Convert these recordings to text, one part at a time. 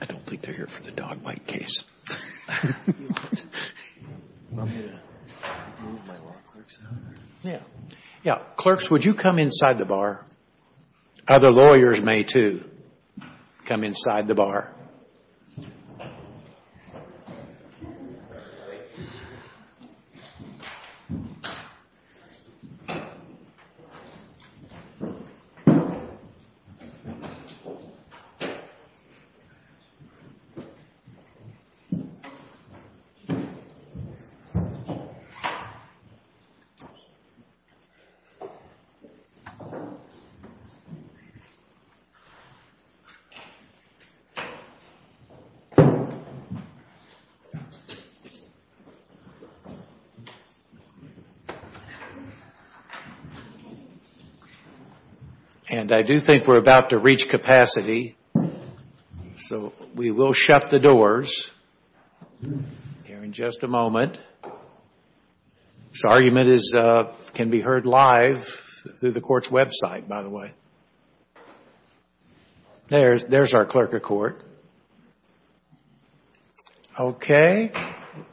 I don't think they're here for the dog bite case. I'm going to move my law clerks out. Yeah. Clerks, would you come inside the bar? Other lawyers may, too. Come inside the bar. And I do think we're about to reach capacity. So we will shut the doors here in just a moment. This argument can be heard live through the court's website, by the way. There's our clerk of court. Okay.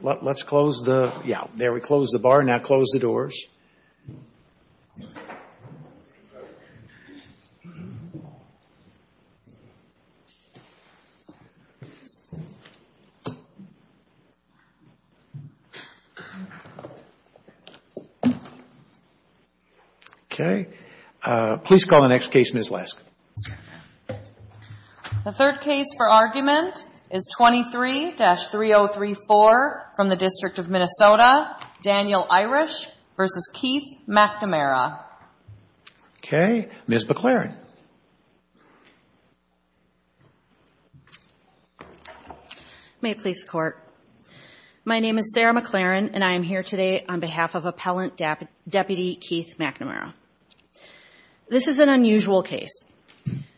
Let's close the, yeah, there we close the bar. Now close the doors. Okay. Please call the next case, Ms. Lesk. The third case for argument is 23-3034 from the District of Minnesota, Daniel Irish v. Keith McNamara. Okay. Ms. McLaren. May it please the Court. My name is Sarah McLaren, and I am here today on behalf of Appellant Deputy Keith McNamara. This is an unusual case.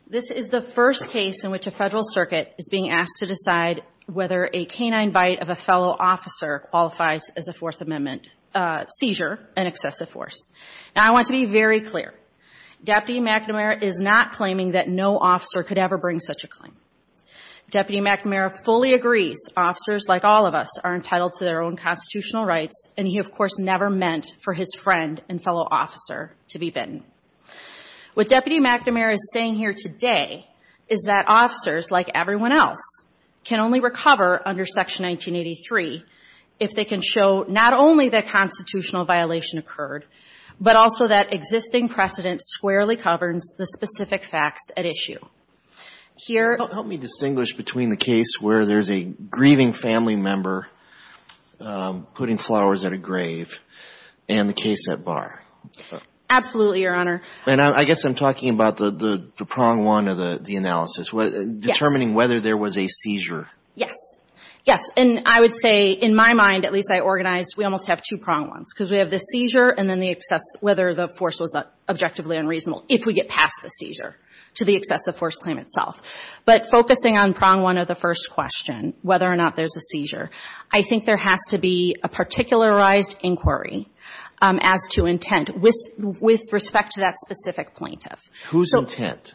This is the first case in which a federal circuit is being asked to decide whether a canine bite of a fellow officer qualifies as a Fourth Amendment seizure, an excessive force. Now, I want to be very clear. Deputy McNamara is not claiming that no officer could ever bring such a claim. Deputy McNamara fully agrees officers like all of us are entitled to their own constitutional rights, and he, of course, never meant for his friend and fellow officer to be bitten. What Deputy McNamara is saying here today is that officers, like everyone else, can only recover under Section 1983 if they can show not only that constitutional violation occurred, but also that existing precedent squarely governs the specific facts at issue. Here Help me distinguish between the case where there's a grieving family member putting flowers at a grave and the case at bar. Absolutely, Your Honor. And I guess I'm talking about the prong one of the analysis. Yes. Determining whether there was a seizure. Yes. Yes. And I would say, in my mind, at least I organized, we almost have two prong ones, because we have the seizure and then the excess, whether the force was objectively unreasonable, if we get past the seizure, to the excessive force claim itself. But focusing on prong one of the first question, whether or not there's a seizure, I think there has to be a particularized inquiry as to intent with respect to that specific plaintiff. Whose intent?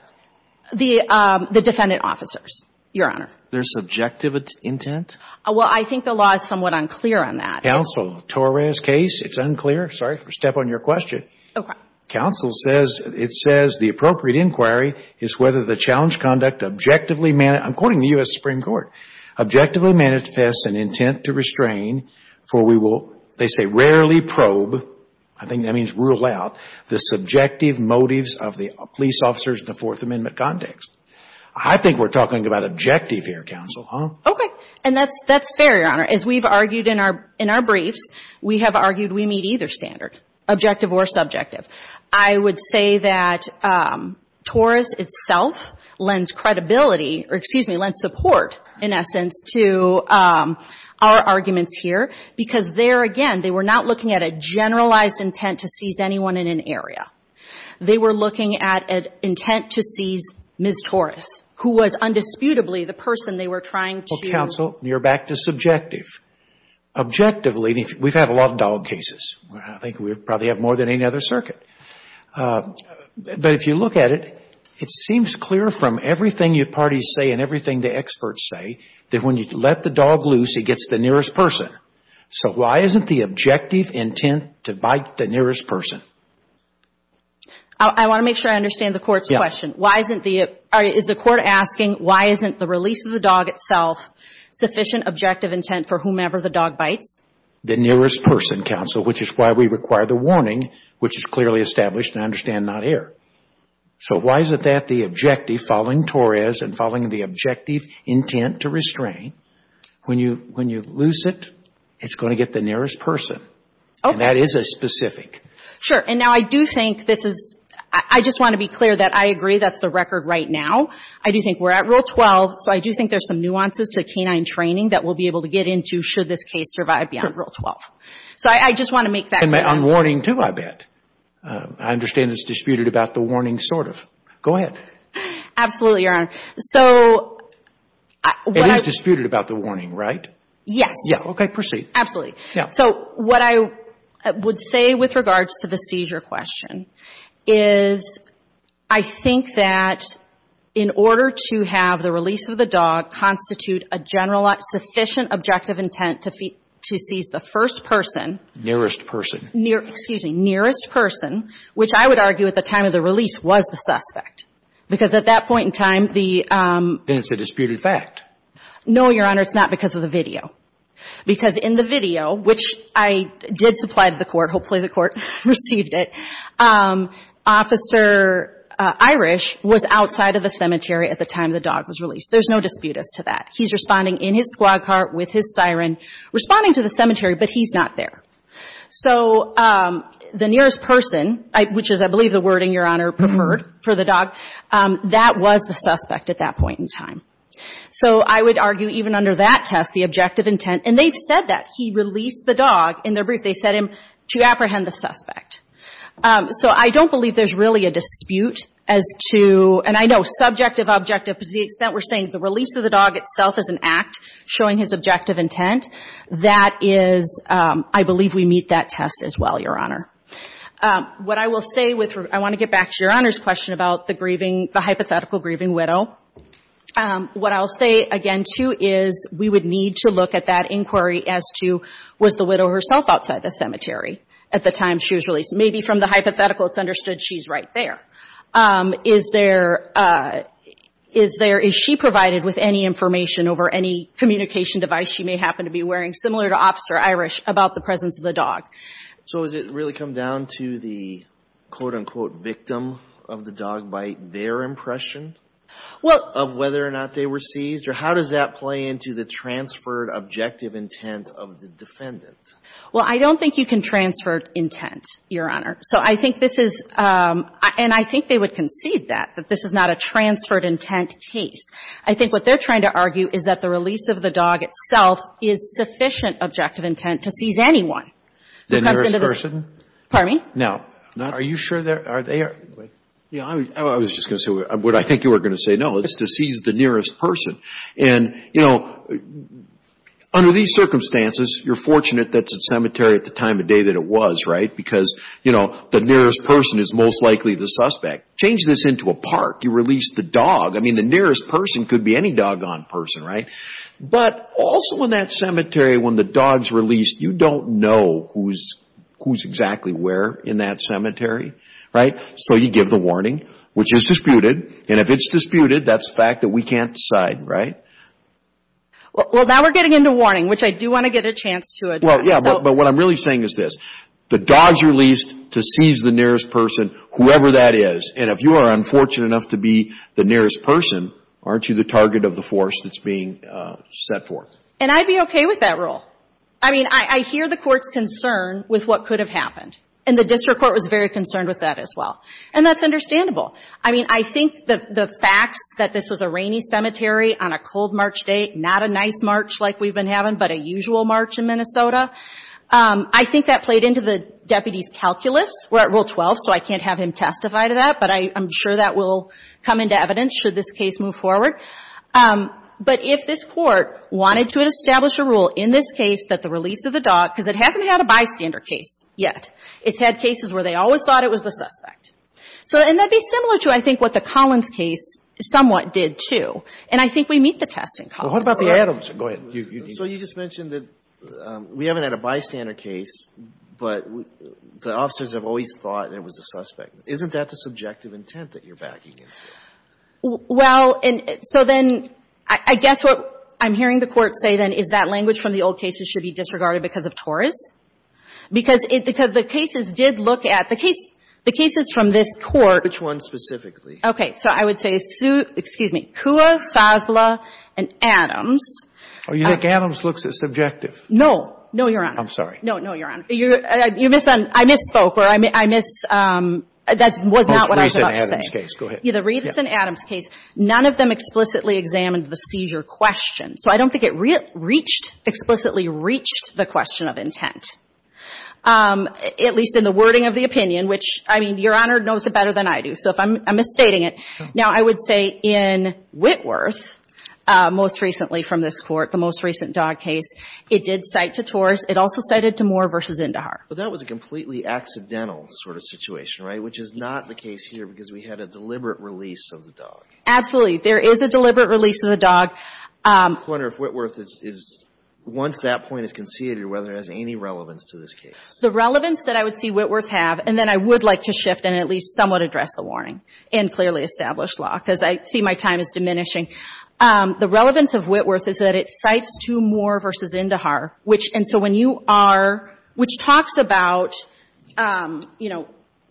The defendant officers, Your Honor. Their subjective intent? Well, I think the law is somewhat unclear on that. Counsel, Torres case, it's unclear. Sorry for stepping on your question. Okay. Counsel says, it says, the appropriate inquiry is whether the challenge conduct objectively, I'm quoting the U.S. Supreme Court, objectively manifests an intent to restrain, for we will, they say, rarely probe, I think that means rule out, the subjective motives of the police officers in the Fourth Amendment context. I think we're talking about objective here, Counsel. Okay. And that's fair, Your Honor. As we've argued in our briefs, we have argued we meet either standard, objective or subjective. I would say that Torres itself lends credibility, or excuse me, lends support, in essence, to our arguments here, because there, again, they were not looking at a generalized intent to seize anyone in an area. They were looking at an intent to seize Ms. Torres, who was undisputably the person they were trying to. Okay. Counsel, you're back to subjective. Objectively, we've had a lot of dog cases. I think we probably have more than any other circuit. But if you look at it, it seems clear from everything your parties say and everything the experts say that when you let the dog loose, he gets the nearest person. So why isn't the objective intent to bite the nearest person? I want to make sure I understand the Court's question. Yeah. Is the Court asking why isn't the release of the dog itself sufficient objective intent for whomever the dog bites? The nearest person, Counsel, which is why we require the warning, which is clearly established, and I understand, not here. So why isn't that the objective following Torres and following the objective intent to restrain? When you loose it, it's going to get the nearest person. Okay. And that is a specific. Sure. And now I do think this is, I just want to be clear that I agree that's the record right now. I do think we're at Rule 12, so I do think there's some nuances to canine training that we'll be able to get into should this case survive beyond Rule 12. So I just want to make that clear. And on warning too, I bet. I understand it's disputed about the warning sort of. Go ahead. Absolutely, Your Honor. So what I... It is disputed about the warning, right? Yes. Okay, proceed. Absolutely. Yeah. So what I would say with regards to the seizure question is I think that in order to have the release of the dog constitute a general, sufficient objective intent to seize the first person. Nearest person. Excuse me. Nearest person, which I would argue at the time of the release was the suspect. Because at that point in time, the... Then it's a disputed fact. No, Your Honor. It's not because of the video. Because in the video, which I did supply to the court, hopefully the court received it, Officer Irish was outside of the cemetery at the time the dog was released. There's no dispute as to that. He's responding in his squad car with his siren, responding to the cemetery, but he's not there. So the nearest person, which is, I believe, the wording, Your Honor, preferred for the dog, that was the suspect at that point in time. So I would argue even under that test, the objective intent. And they've said that. He released the dog. In their brief, they said to apprehend the suspect. So I don't believe there's really a dispute as to... And I know subjective, objective. To the extent we're saying the release of the dog itself is an act showing his objective intent, that is... I believe we meet that test as well, Your Honor. What I will say with... I want to get back to Your Honor's question about the grieving... the hypothetical grieving widow. What I'll say again, too, is we would need to look at that inquiry as to... Was the widow herself outside the cemetery at the time she was released? Maybe from the hypothetical, it's understood she's right there. Is there... Is there... Is she provided with any information over any communication device she may happen to be wearing, similar to Officer Irish, about the presence of the dog? So has it really come down to the... quote, unquote, victim of the dog bite, their impression? Well... Of whether or not they were seized? Or how does that play into the transferred objective intent of the defendant? Well, I don't think you can transfer intent, Your Honor. So I think this is... And I think they would concede that, that this is not a transferred intent case. I think what they're trying to argue is that the release of the dog itself is sufficient objective intent to seize anyone. The nearest person? Pardon me? No. Are you sure they're... Yeah, I was just going to say what I think you were going to say. No, it's to seize the nearest person. And, you know, under these circumstances, you're fortunate that it's a cemetery at the time of day that it was, right? Because, you know, the nearest person is most likely the suspect. Change this into a park. You release the dog. I mean, the nearest person could be any doggone person, right? But also in that cemetery, when the dog's released, you don't know who's exactly where in that cemetery, right? So you give the warning, which is disputed. And if it's disputed, that's a fact that we can't decide, right? Well, now we're getting into warning, which I do want to get a chance to address. Well, yeah, but what I'm really saying is this. The dog's released to seize the nearest person, whoever that is. And if you are unfortunate enough to be the nearest person, aren't you the target of the force that's being set forth? And I'd be okay with that rule. I mean, I hear the court's concern with what could have happened. And the district court was very concerned with that as well. And that's understandable. I mean, I think the facts that this was a rainy cemetery on a cold March day, not a nice March like we've been having, but a usual March in Minnesota, I think that played into the deputy's calculus. We're at Rule 12, so I can't have him testify to that. But I'm sure that will come into evidence should this case move forward. But if this court wanted to establish a rule in this case that the release of the dog, because it hasn't had a bystander case yet. It's had cases where they always thought it was the suspect. And that would be similar to, I think, what the Collins case somewhat did, too. And I think we meet the test in Collins. Well, what about the Adams? Go ahead. So you just mentioned that we haven't had a bystander case, but the officers have always thought it was the suspect. Isn't that the subjective intent that you're backing into? Well, and so then I guess what I'm hearing the Court say, then, is that language from the old cases should be disregarded because of Torres? Because the cases did look at the case, the cases from this Court. Which one specifically? Okay. So I would say, excuse me, Kua, Sosla, and Adams. Oh, you think Adams looks subjective? No. No, Your Honor. I'm sorry. No, no, Your Honor. I misspoke. That was not what I was about to say. The Reeves and Adams case. Go ahead. Yeah, the Reeves and Adams case. None of them explicitly examined the seizure question. So I don't think it explicitly reached the question of intent, at least in the wording of the opinion, which, I mean, Your Honor knows it better than I do. So I'm misstating it. Now, I would say in Whitworth, most recently from this Court, the most recent Dodd case, it did cite to Torres. It also cited to Moore v. Indahar. But that was a completely accidental sort of situation, right, which is not the case here because we had a deliberate release of the dog. Absolutely. There is a deliberate release of the dog. I wonder if Whitworth is, once that point is conceded, whether it has any relevance to this case. The relevance that I would see Whitworth have, and then I would like to shift and at least somewhat address the warning in clearly established law, because I see my time is diminishing. The relevance of Whitworth is that it cites to Moore v. Indahar, which, and so when you are, which talks about, you know,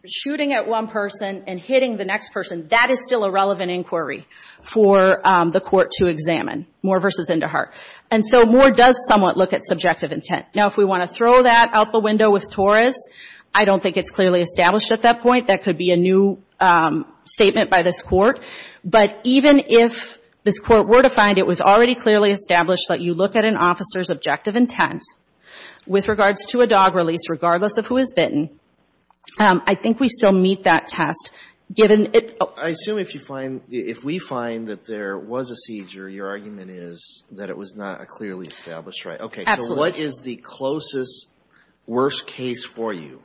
shooting at one person and hitting the next person, that is still a relevant inquiry for the Court to examine, Moore v. Indahar. And so Moore does somewhat look at subjective intent. Now, if we want to throw that out the window with Torres, I don't think it's clearly established at that point. That could be a new statement by this Court. But even if this Court were to find it was already clearly established that you look at an officer's objective intent with regards to a dog release, regardless of who is bitten, I think we still meet that test, given it. I assume if you find, if we find that there was a seizure, your argument is that it was not a clearly established right. Absolutely. Okay. So what is the closest, worst case for you?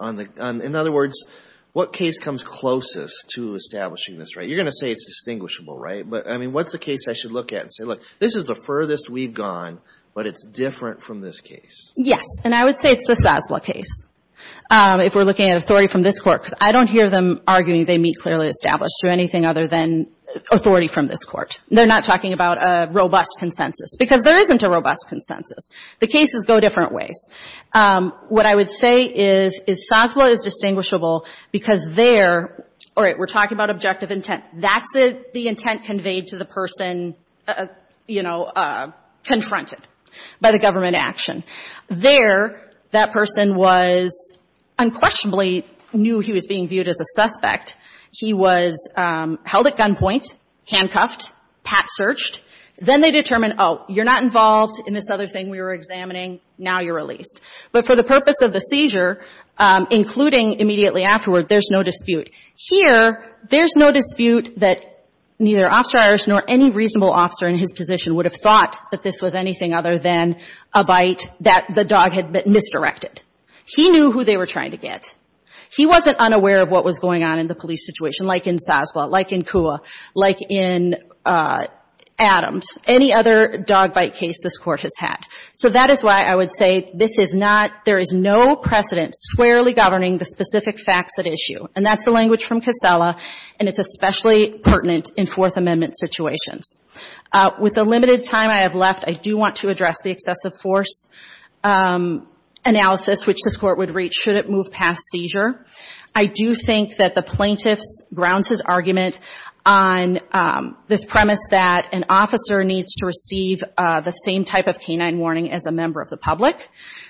In other words, what case comes closest to establishing this right? You're going to say it's distinguishable, right? But, I mean, what's the case I should look at and say, look, this is the furthest we've gone, but it's different from this case. Yes. And I would say it's the Sasla case, if we're looking at authority from this Court. Because I don't hear them arguing they meet clearly established through anything other than authority from this Court. They're not talking about a robust consensus. Because there isn't a robust consensus. The cases go different ways. What I would say is, is Sasla is distinguishable because there, all right, we're talking about objective intent. That's the intent conveyed to the person, you know, confronted by the government action. There, that person was unquestionably knew he was being viewed as a suspect. He was held at gunpoint, handcuffed, pat searched. Then they determined, oh, you're not involved in this other thing we were examining. Now you're released. But for the purpose of the seizure, including immediately afterward, there's no dispute. Here, there's no dispute that neither Officer Irish nor any reasonable officer in his position would have thought that this was anything other than a bite that the dog had misdirected. He knew who they were trying to get. He wasn't unaware of what was going on in the police situation, like in Sasla, like in Kua, like in Adams. Any other dog bite case this Court has had. So that is why I would say this is not, there is no precedent squarely governing the specific facts at issue. And that's the language from Casella, and it's especially pertinent in Fourth Amendment situations. With the limited time I have left, I do want to address the excessive force analysis, which this Court would reach should it move past seizure. I do think that the plaintiff grounds his argument on this premise that an officer needs to receive the same type of canine warning as a member of the public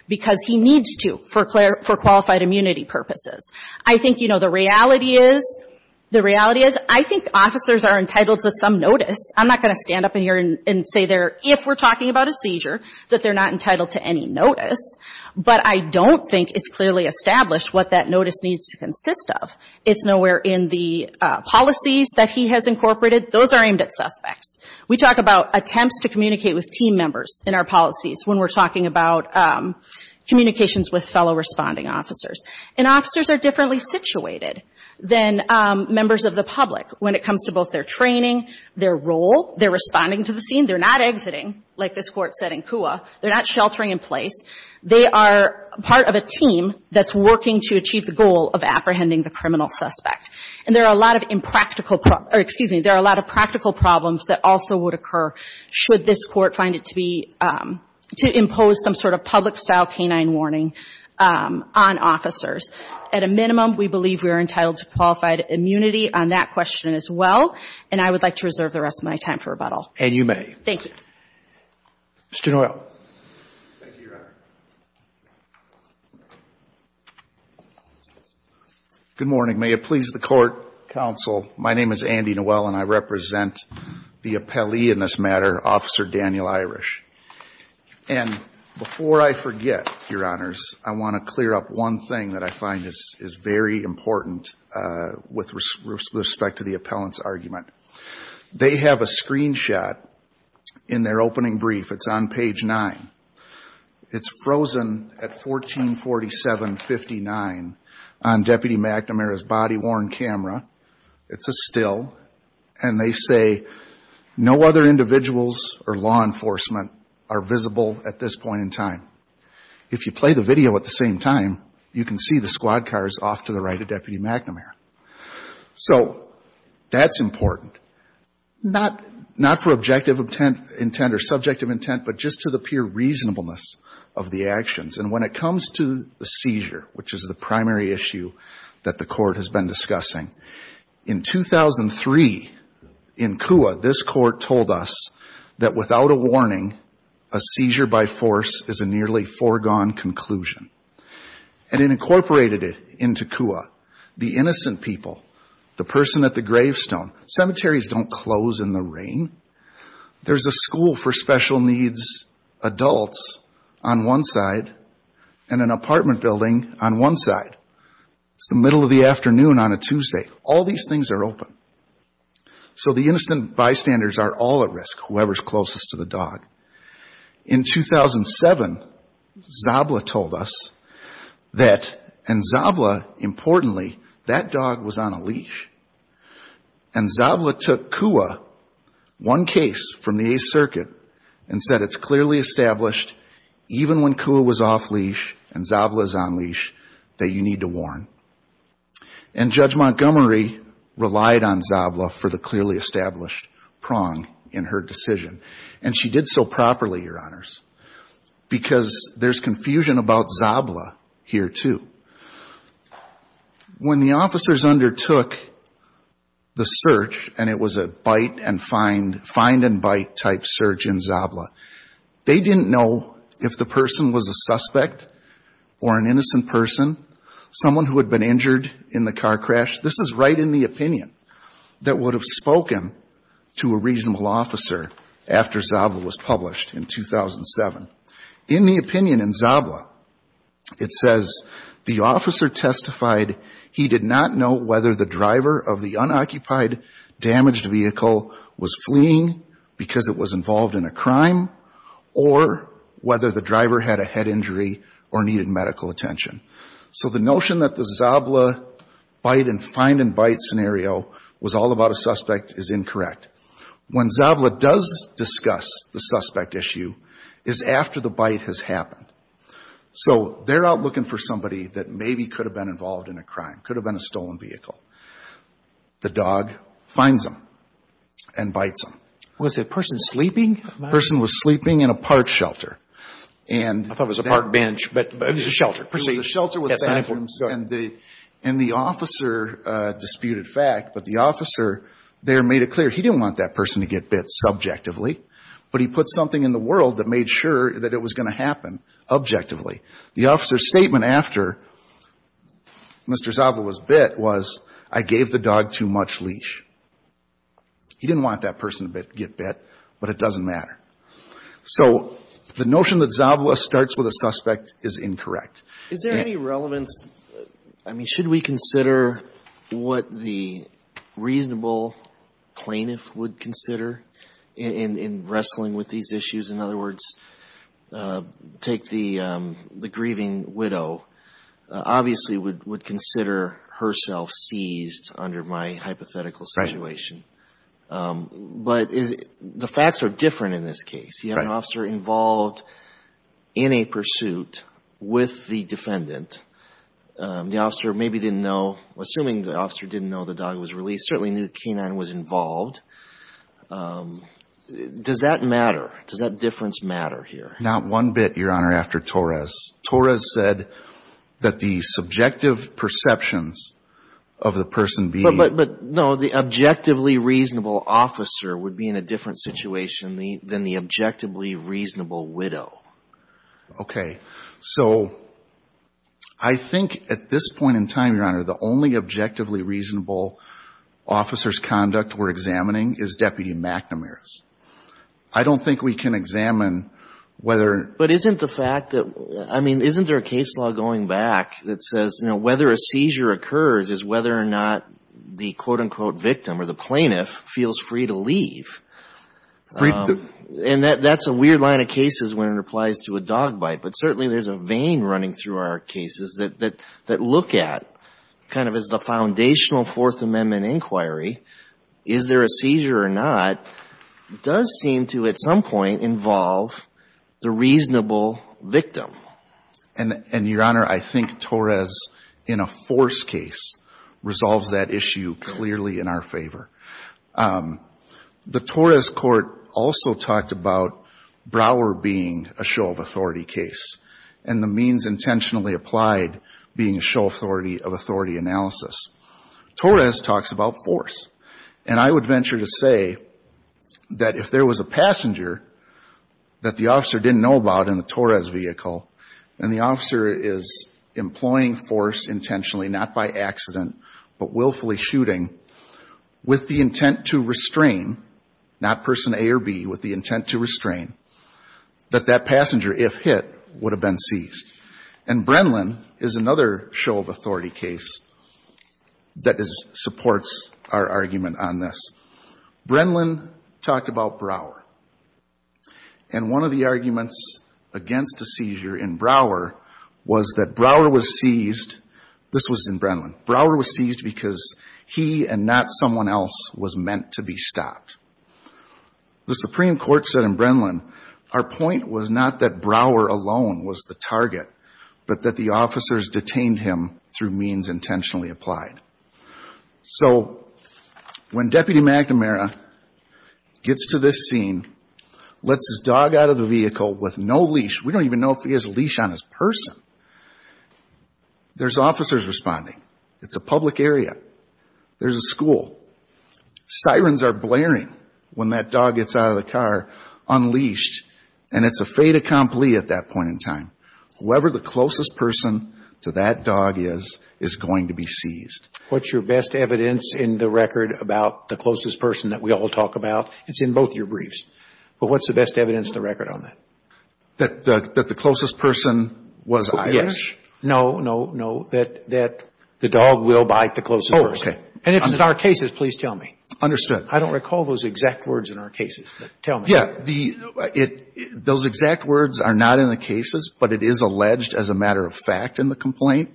because he needs to for qualified immunity purposes. I think, you know, the reality is, the reality is, I think officers are entitled to some notice. I'm not going to stand up in here and say they're, if we're talking about a seizure, that they're not entitled to any notice. But I don't think it's clearly established what that notice needs to consist of. It's nowhere in the policies that he has incorporated. Those are aimed at suspects. We talk about attempts to communicate with team members in our policies when we're talking about communications with fellow responding officers. And officers are differently situated than members of the public when it comes to both their training, their role. They're responding to the scene. They're not exiting, like this Court said in Cua. They're not sheltering in place. They are part of a team that's working to achieve the goal of apprehending the criminal suspect. And there are a lot of impractical or, excuse me, there are a lot of practical problems that also would occur should this Court find it to be, to impose some sort of public-style canine warning on officers. At a minimum, we believe we are entitled to qualified immunity on that question as well. And I would like to reserve the rest of my time for rebuttal. And you may. Thank you. Mr. Noel. Thank you, Your Honor. Good morning. May it please the Court, counsel. My name is Andy Noel, and I represent the appellee in this matter, Officer Daniel Irish. And before I forget, Your Honors, I want to clear up one thing that I find is very important with respect to the appellant's argument. They have a screenshot in their opening brief. It's on page 9. It's frozen at 1447-59 on Deputy McNamara's body-worn camera. It's a still. And they say, no other individuals or law enforcement are visible at this point in time. If you play the video at the same time, you can see the squad cars off to the right of Deputy McNamara. So that's important, not for objective intent or subjective intent, but just to the pure reasonableness of the actions. And when it comes to the seizure, which is the primary issue that the Court has been discussing, in 2003, in Kua, this Court told us that without a warning, a seizure by force is a nearly foregone conclusion. And it incorporated it into Kua. The innocent people, the person at the gravestone, cemeteries don't close in the rain. There's a school for special needs adults on one side and an apartment building on one side. It's the middle of the afternoon on a Tuesday. All these things are open. So the innocent bystanders are all at risk, whoever's closest to the dog. In 2007, Zabla told us that, and Zabla, importantly, that dog was on a leash. And Zabla took Kua, one case from the Eighth Circuit, and said it's clearly established, even when Kua was off leash and Zabla's on leash, that you need to warn. And Judge Montgomery relied on Zabla for the clearly established prong in her decision. And she did so properly, Your Honors, because there's confusion about Zabla here, too. When the officers undertook the search, and it was a bite and find, find and bite type search in Zabla, they didn't know if the person was a suspect or an innocent person, someone who had been injured in the car crash. This is right in the opinion that would have spoken to a reasonable officer after Zabla was published in 2007. In the opinion in Zabla, it says the officer testified he did not know whether the driver of the unoccupied, damaged vehicle was fleeing because it was involved in a crime, or whether the driver had a head injury or needed medical attention. So the notion that the Zabla bite and find and bite scenario was all about a suspect is incorrect. When Zabla does discuss the suspect issue is after the bite has happened. So they're out looking for somebody that maybe could have been involved in a crime, could have been a stolen vehicle. The dog finds them and bites them. Was the person sleeping? The person was sleeping in a park shelter. I thought it was a park bench, but it was a shelter. It was a shelter with bathrooms. And the officer disputed fact, but the officer there made it clear he didn't want that person to get bit subjectively, but he put something in the world that made sure that it was going to happen objectively. The officer's statement after Mr. Zabla was bit was, I gave the dog too much leash. He didn't want that person to get bit, but it doesn't matter. So the notion that Zabla starts with a suspect is incorrect. Is there any relevance? I mean, should we consider what the reasonable plaintiff would consider in wrestling with these issues? In other words, take the grieving widow. Obviously would consider herself seized under my hypothetical situation. But the facts are different in this case. He had an officer involved in a pursuit with the defendant. The officer maybe didn't know, assuming the officer didn't know the dog was released, certainly knew the canine was involved. Does that matter? Does that difference matter here? Not one bit, Your Honor, after Torres. Torres said that the subjective perceptions of the person being- Okay. So I think at this point in time, Your Honor, the only objectively reasonable officer's conduct we're examining is Deputy McNamara's. I don't think we can examine whether- But isn't the fact that, I mean, isn't there a case law going back that says, you know, whether a seizure occurs is whether or not the quote-unquote victim or the plaintiff feels free to leave? And that's a weird line of cases when it applies to a dog bite. But certainly there's a vein running through our cases that look at, kind of as the foundational Fourth Amendment inquiry, is there a seizure or not does seem to, at some point, involve the reasonable victim. And, Your Honor, I think Torres, in a force case, resolves that issue clearly in our favor. The Torres court also talked about Brower being a show-of-authority case and the means intentionally applied being a show-of-authority of authority analysis. Torres talks about force. And I would venture to say that if there was a passenger that the officer didn't know about in the Torres vehicle and the officer is employing force intentionally, not by accident, but willfully shooting, with the intent to restrain, not person A or B, with the intent to restrain, that that passenger, if hit, would have been seized. And Brenlin is another show-of-authority case that supports our argument on this. Brenlin talked about Brower. And one of the arguments against a seizure in Brower was that Brower was seized, this was in Brenlin, Brower was seized because he and not someone else was meant to be stopped. The Supreme Court said in Brenlin, our point was not that Brower alone was the target, but that the officers detained him through means intentionally applied. So when Deputy McNamara gets to this scene, lets his dog out of the vehicle with no leash, we don't even know if he has a leash on his person, there's officers responding. It's a public area. There's a school. Sirens are blaring when that dog gets out of the car unleashed, and it's a fait accompli at that point in time. Whoever the closest person to that dog is is going to be seized. What's your best evidence in the record about the closest person that we all talk about? It's in both your briefs. But what's the best evidence in the record on that? That the closest person was Irish? Yes. No, no, no. That the dog will bite the closest person. Oh, okay. And if it's in our cases, please tell me. Understood. I don't recall those exact words in our cases, but tell me. Yeah. Those exact words are not in the cases, but it is alleged as a matter of fact in the complaint.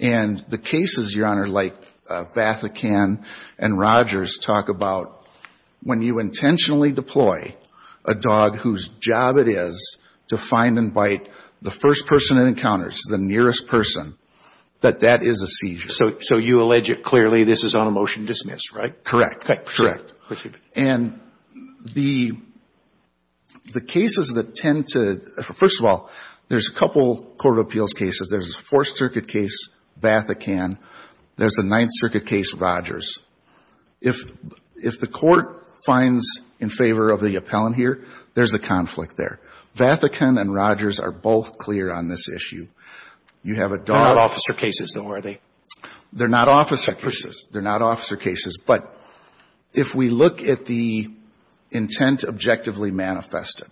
And the cases, Your Honor, like Vathican and Rogers talk about, when you intentionally deploy a dog whose job it is to find and bite the first person it encounters, the nearest person, that that is a seizure. So you allege it clearly. This is on a motion dismissed, right? Correct. Correct. And the cases that tend to – first of all, there's a couple of court of appeals cases. There's a Fourth Circuit case, Vathican. There's a Ninth Circuit case, Rogers. If the court finds in favor of the appellant here, there's a conflict there. Vathican and Rogers are both clear on this issue. You have a dog – They're not officer cases, though, are they? They're not officer cases. They're not officer cases. But if we look at the intent objectively manifested,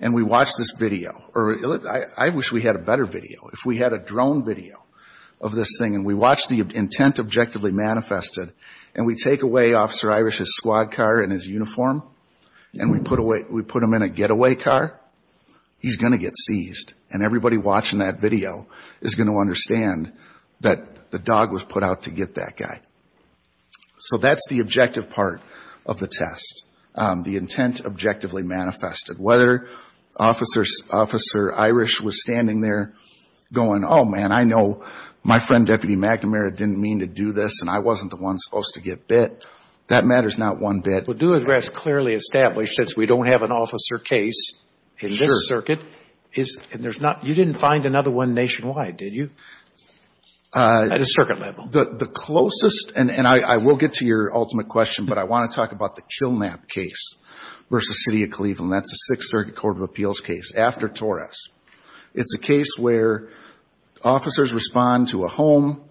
and we watch this video – I wish we had a better video. If we had a drone video of this thing, and we watch the intent objectively manifested, and we take away Officer Irish's squad car and his uniform, and we put him in a getaway car, he's going to get seized. And everybody watching that video is going to understand that the dog was put out to get that guy. So that's the objective part of the test, the intent objectively manifested. Whether Officer Irish was standing there going, oh, man, I know my friend Deputy McNamara didn't mean to do this, and I wasn't the one supposed to get bit, that matters not one bit. Well, due address clearly established, since we don't have an officer case in this circuit. Sure. And there's not – you didn't find another one nationwide, did you, at a circuit level? The closest – and I will get to your ultimate question, but I want to talk about the Kilnap case versus City of Cleveland. That's a Sixth Circuit Court of Appeals case after Torres. It's a case where officers respond to a home.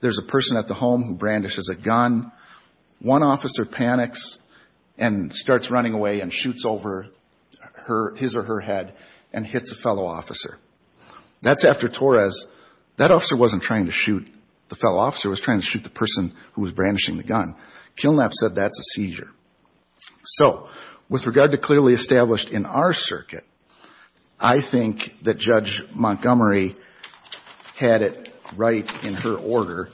There's a person at the home who brandishes a gun. One officer panics and starts running away and shoots over his or her head and hits a fellow officer. That's after Torres. That officer wasn't trying to shoot the fellow officer. It was trying to shoot the person who was brandishing the gun. Kilnap said that's a seizure. So with regard to clearly established in our circuit, I think that Judge Montgomery had it right in her order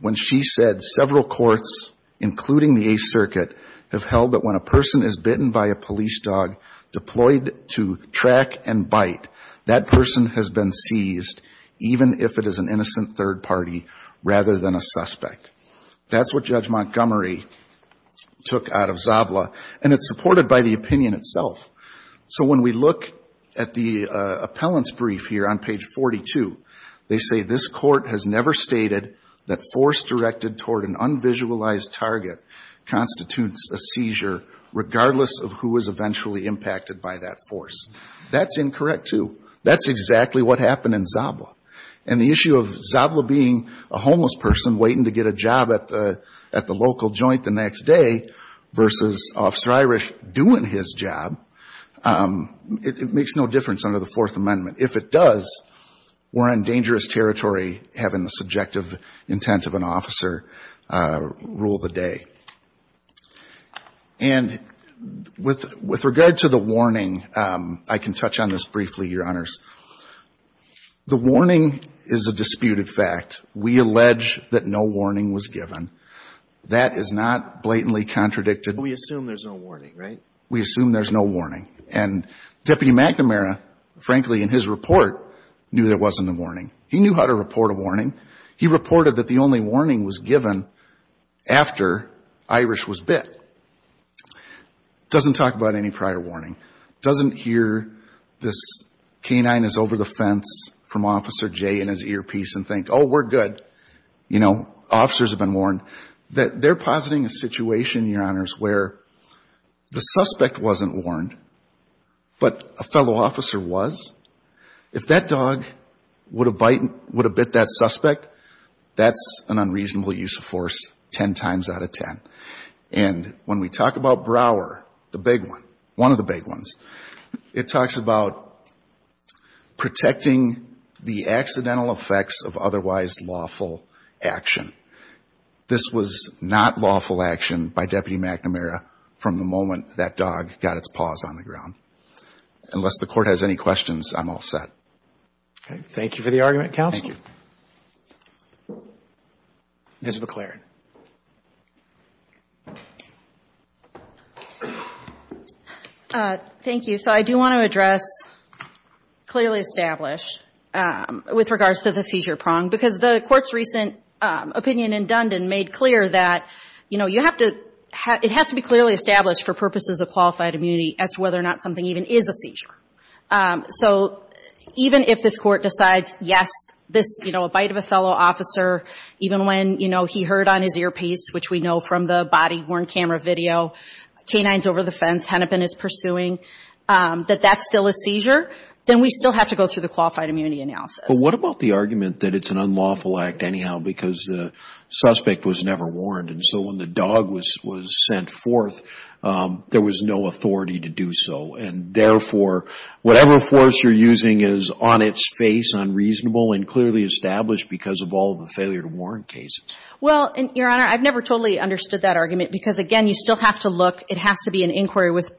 when she said several courts, including the Eighth Circuit, have held that when a person is bitten by a police dog, deployed to track and bite, that person has been seized, even if it is an innocent third party rather than a suspect. That's what Judge Montgomery took out of Zabla, and it's supported by the opinion itself. So when we look at the appellant's brief here on page 42, they say this court has never stated that force directed toward an unvisualized target constitutes a seizure, regardless of who is eventually impacted by that force. That's incorrect, too. That's exactly what happened in Zabla. And the issue of Zabla being a homeless person waiting to get a job at the local joint the next day versus Officer Irish doing his job, it makes no difference under the Fourth Amendment. If it does, we're on dangerous territory having the subjective intent of an officer rule the day. And with regard to the warning, I can touch on this briefly, Your Honors. The warning is a disputed fact. We allege that no warning was given. That is not blatantly contradicted. We assume there's no warning, right? We assume there's no warning. And Deputy McNamara, frankly, in his report, knew there wasn't a warning. He knew how to report a warning. He reported that the only warning was given after Irish was bit. Doesn't talk about any prior warning. Doesn't hear this canine is over the fence from Officer Jay in his earpiece and think, oh, we're good. You know, officers have been warned. They're positing a situation, Your Honors, where the suspect wasn't warned but a fellow officer was. If that dog would have bit that suspect, that's an unreasonable use of force ten times out of ten. And when we talk about Brower, the big one, one of the big ones, it talks about protecting the accidental effects of otherwise lawful action. This was not lawful action by Deputy McNamara from the moment that dog got its paws on the ground. Unless the Court has any questions, I'm all set. Okay. Thank you for the argument, counsel. Thank you. Ms. McLaren. Thank you. So I do want to address clearly established with regards to the seizure prong, because the Court's recent opinion in Dundon made clear that, you know, it has to be clearly established for purposes of qualified immunity as to whether or not something even is a seizure. So even if this Court decides, yes, this, you know, a bite of a fellow officer, even when, you know, he heard on his earpiece, which we know from the body-worn camera video, canines over the fence, Hennepin is pursuing, that that's still a seizure, then we still have to go through the qualified immunity analysis. But what about the argument that it's an unlawful act anyhow because the suspect was never warned, and so when the dog was sent forth, there was no authority to do so, and therefore whatever force you're using is on its face unreasonable and clearly established because of all the failure to warn cases? Well, Your Honor, I've never totally understood that argument because, again, you still have to look. It has to be an inquiry with,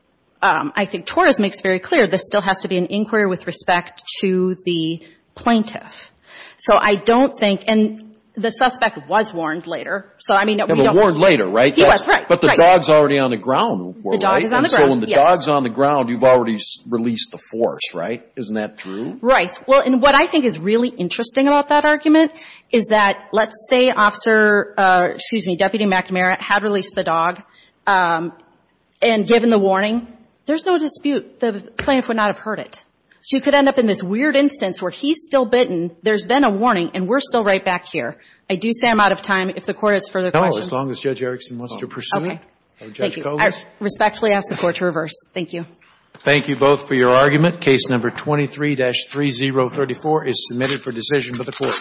I think Torres makes very clear, this still has to be an inquiry with respect to the plaintiff. So I don't think, and the suspect was warned later, so, I mean, we don't know. He was warned later, right? He was, right, right. But the dog's already on the ground. The dog is on the ground, yes. You've already released the force, right? Isn't that true? Right. Well, and what I think is really interesting about that argument is that let's say Officer, excuse me, Deputy McNamara had released the dog, and given the warning, there's no dispute the plaintiff would not have heard it. So you could end up in this weird instance where he's still bitten, there's been a warning, and we're still right back here. I do say I'm out of time. If the Court has further questions. No, as long as Judge Erickson wants to pursue it. Okay. Thank you. I respectfully ask the Court to reverse. Thank you. Thank you both for your argument. Case number 23-3034 is submitted for decision by the Court.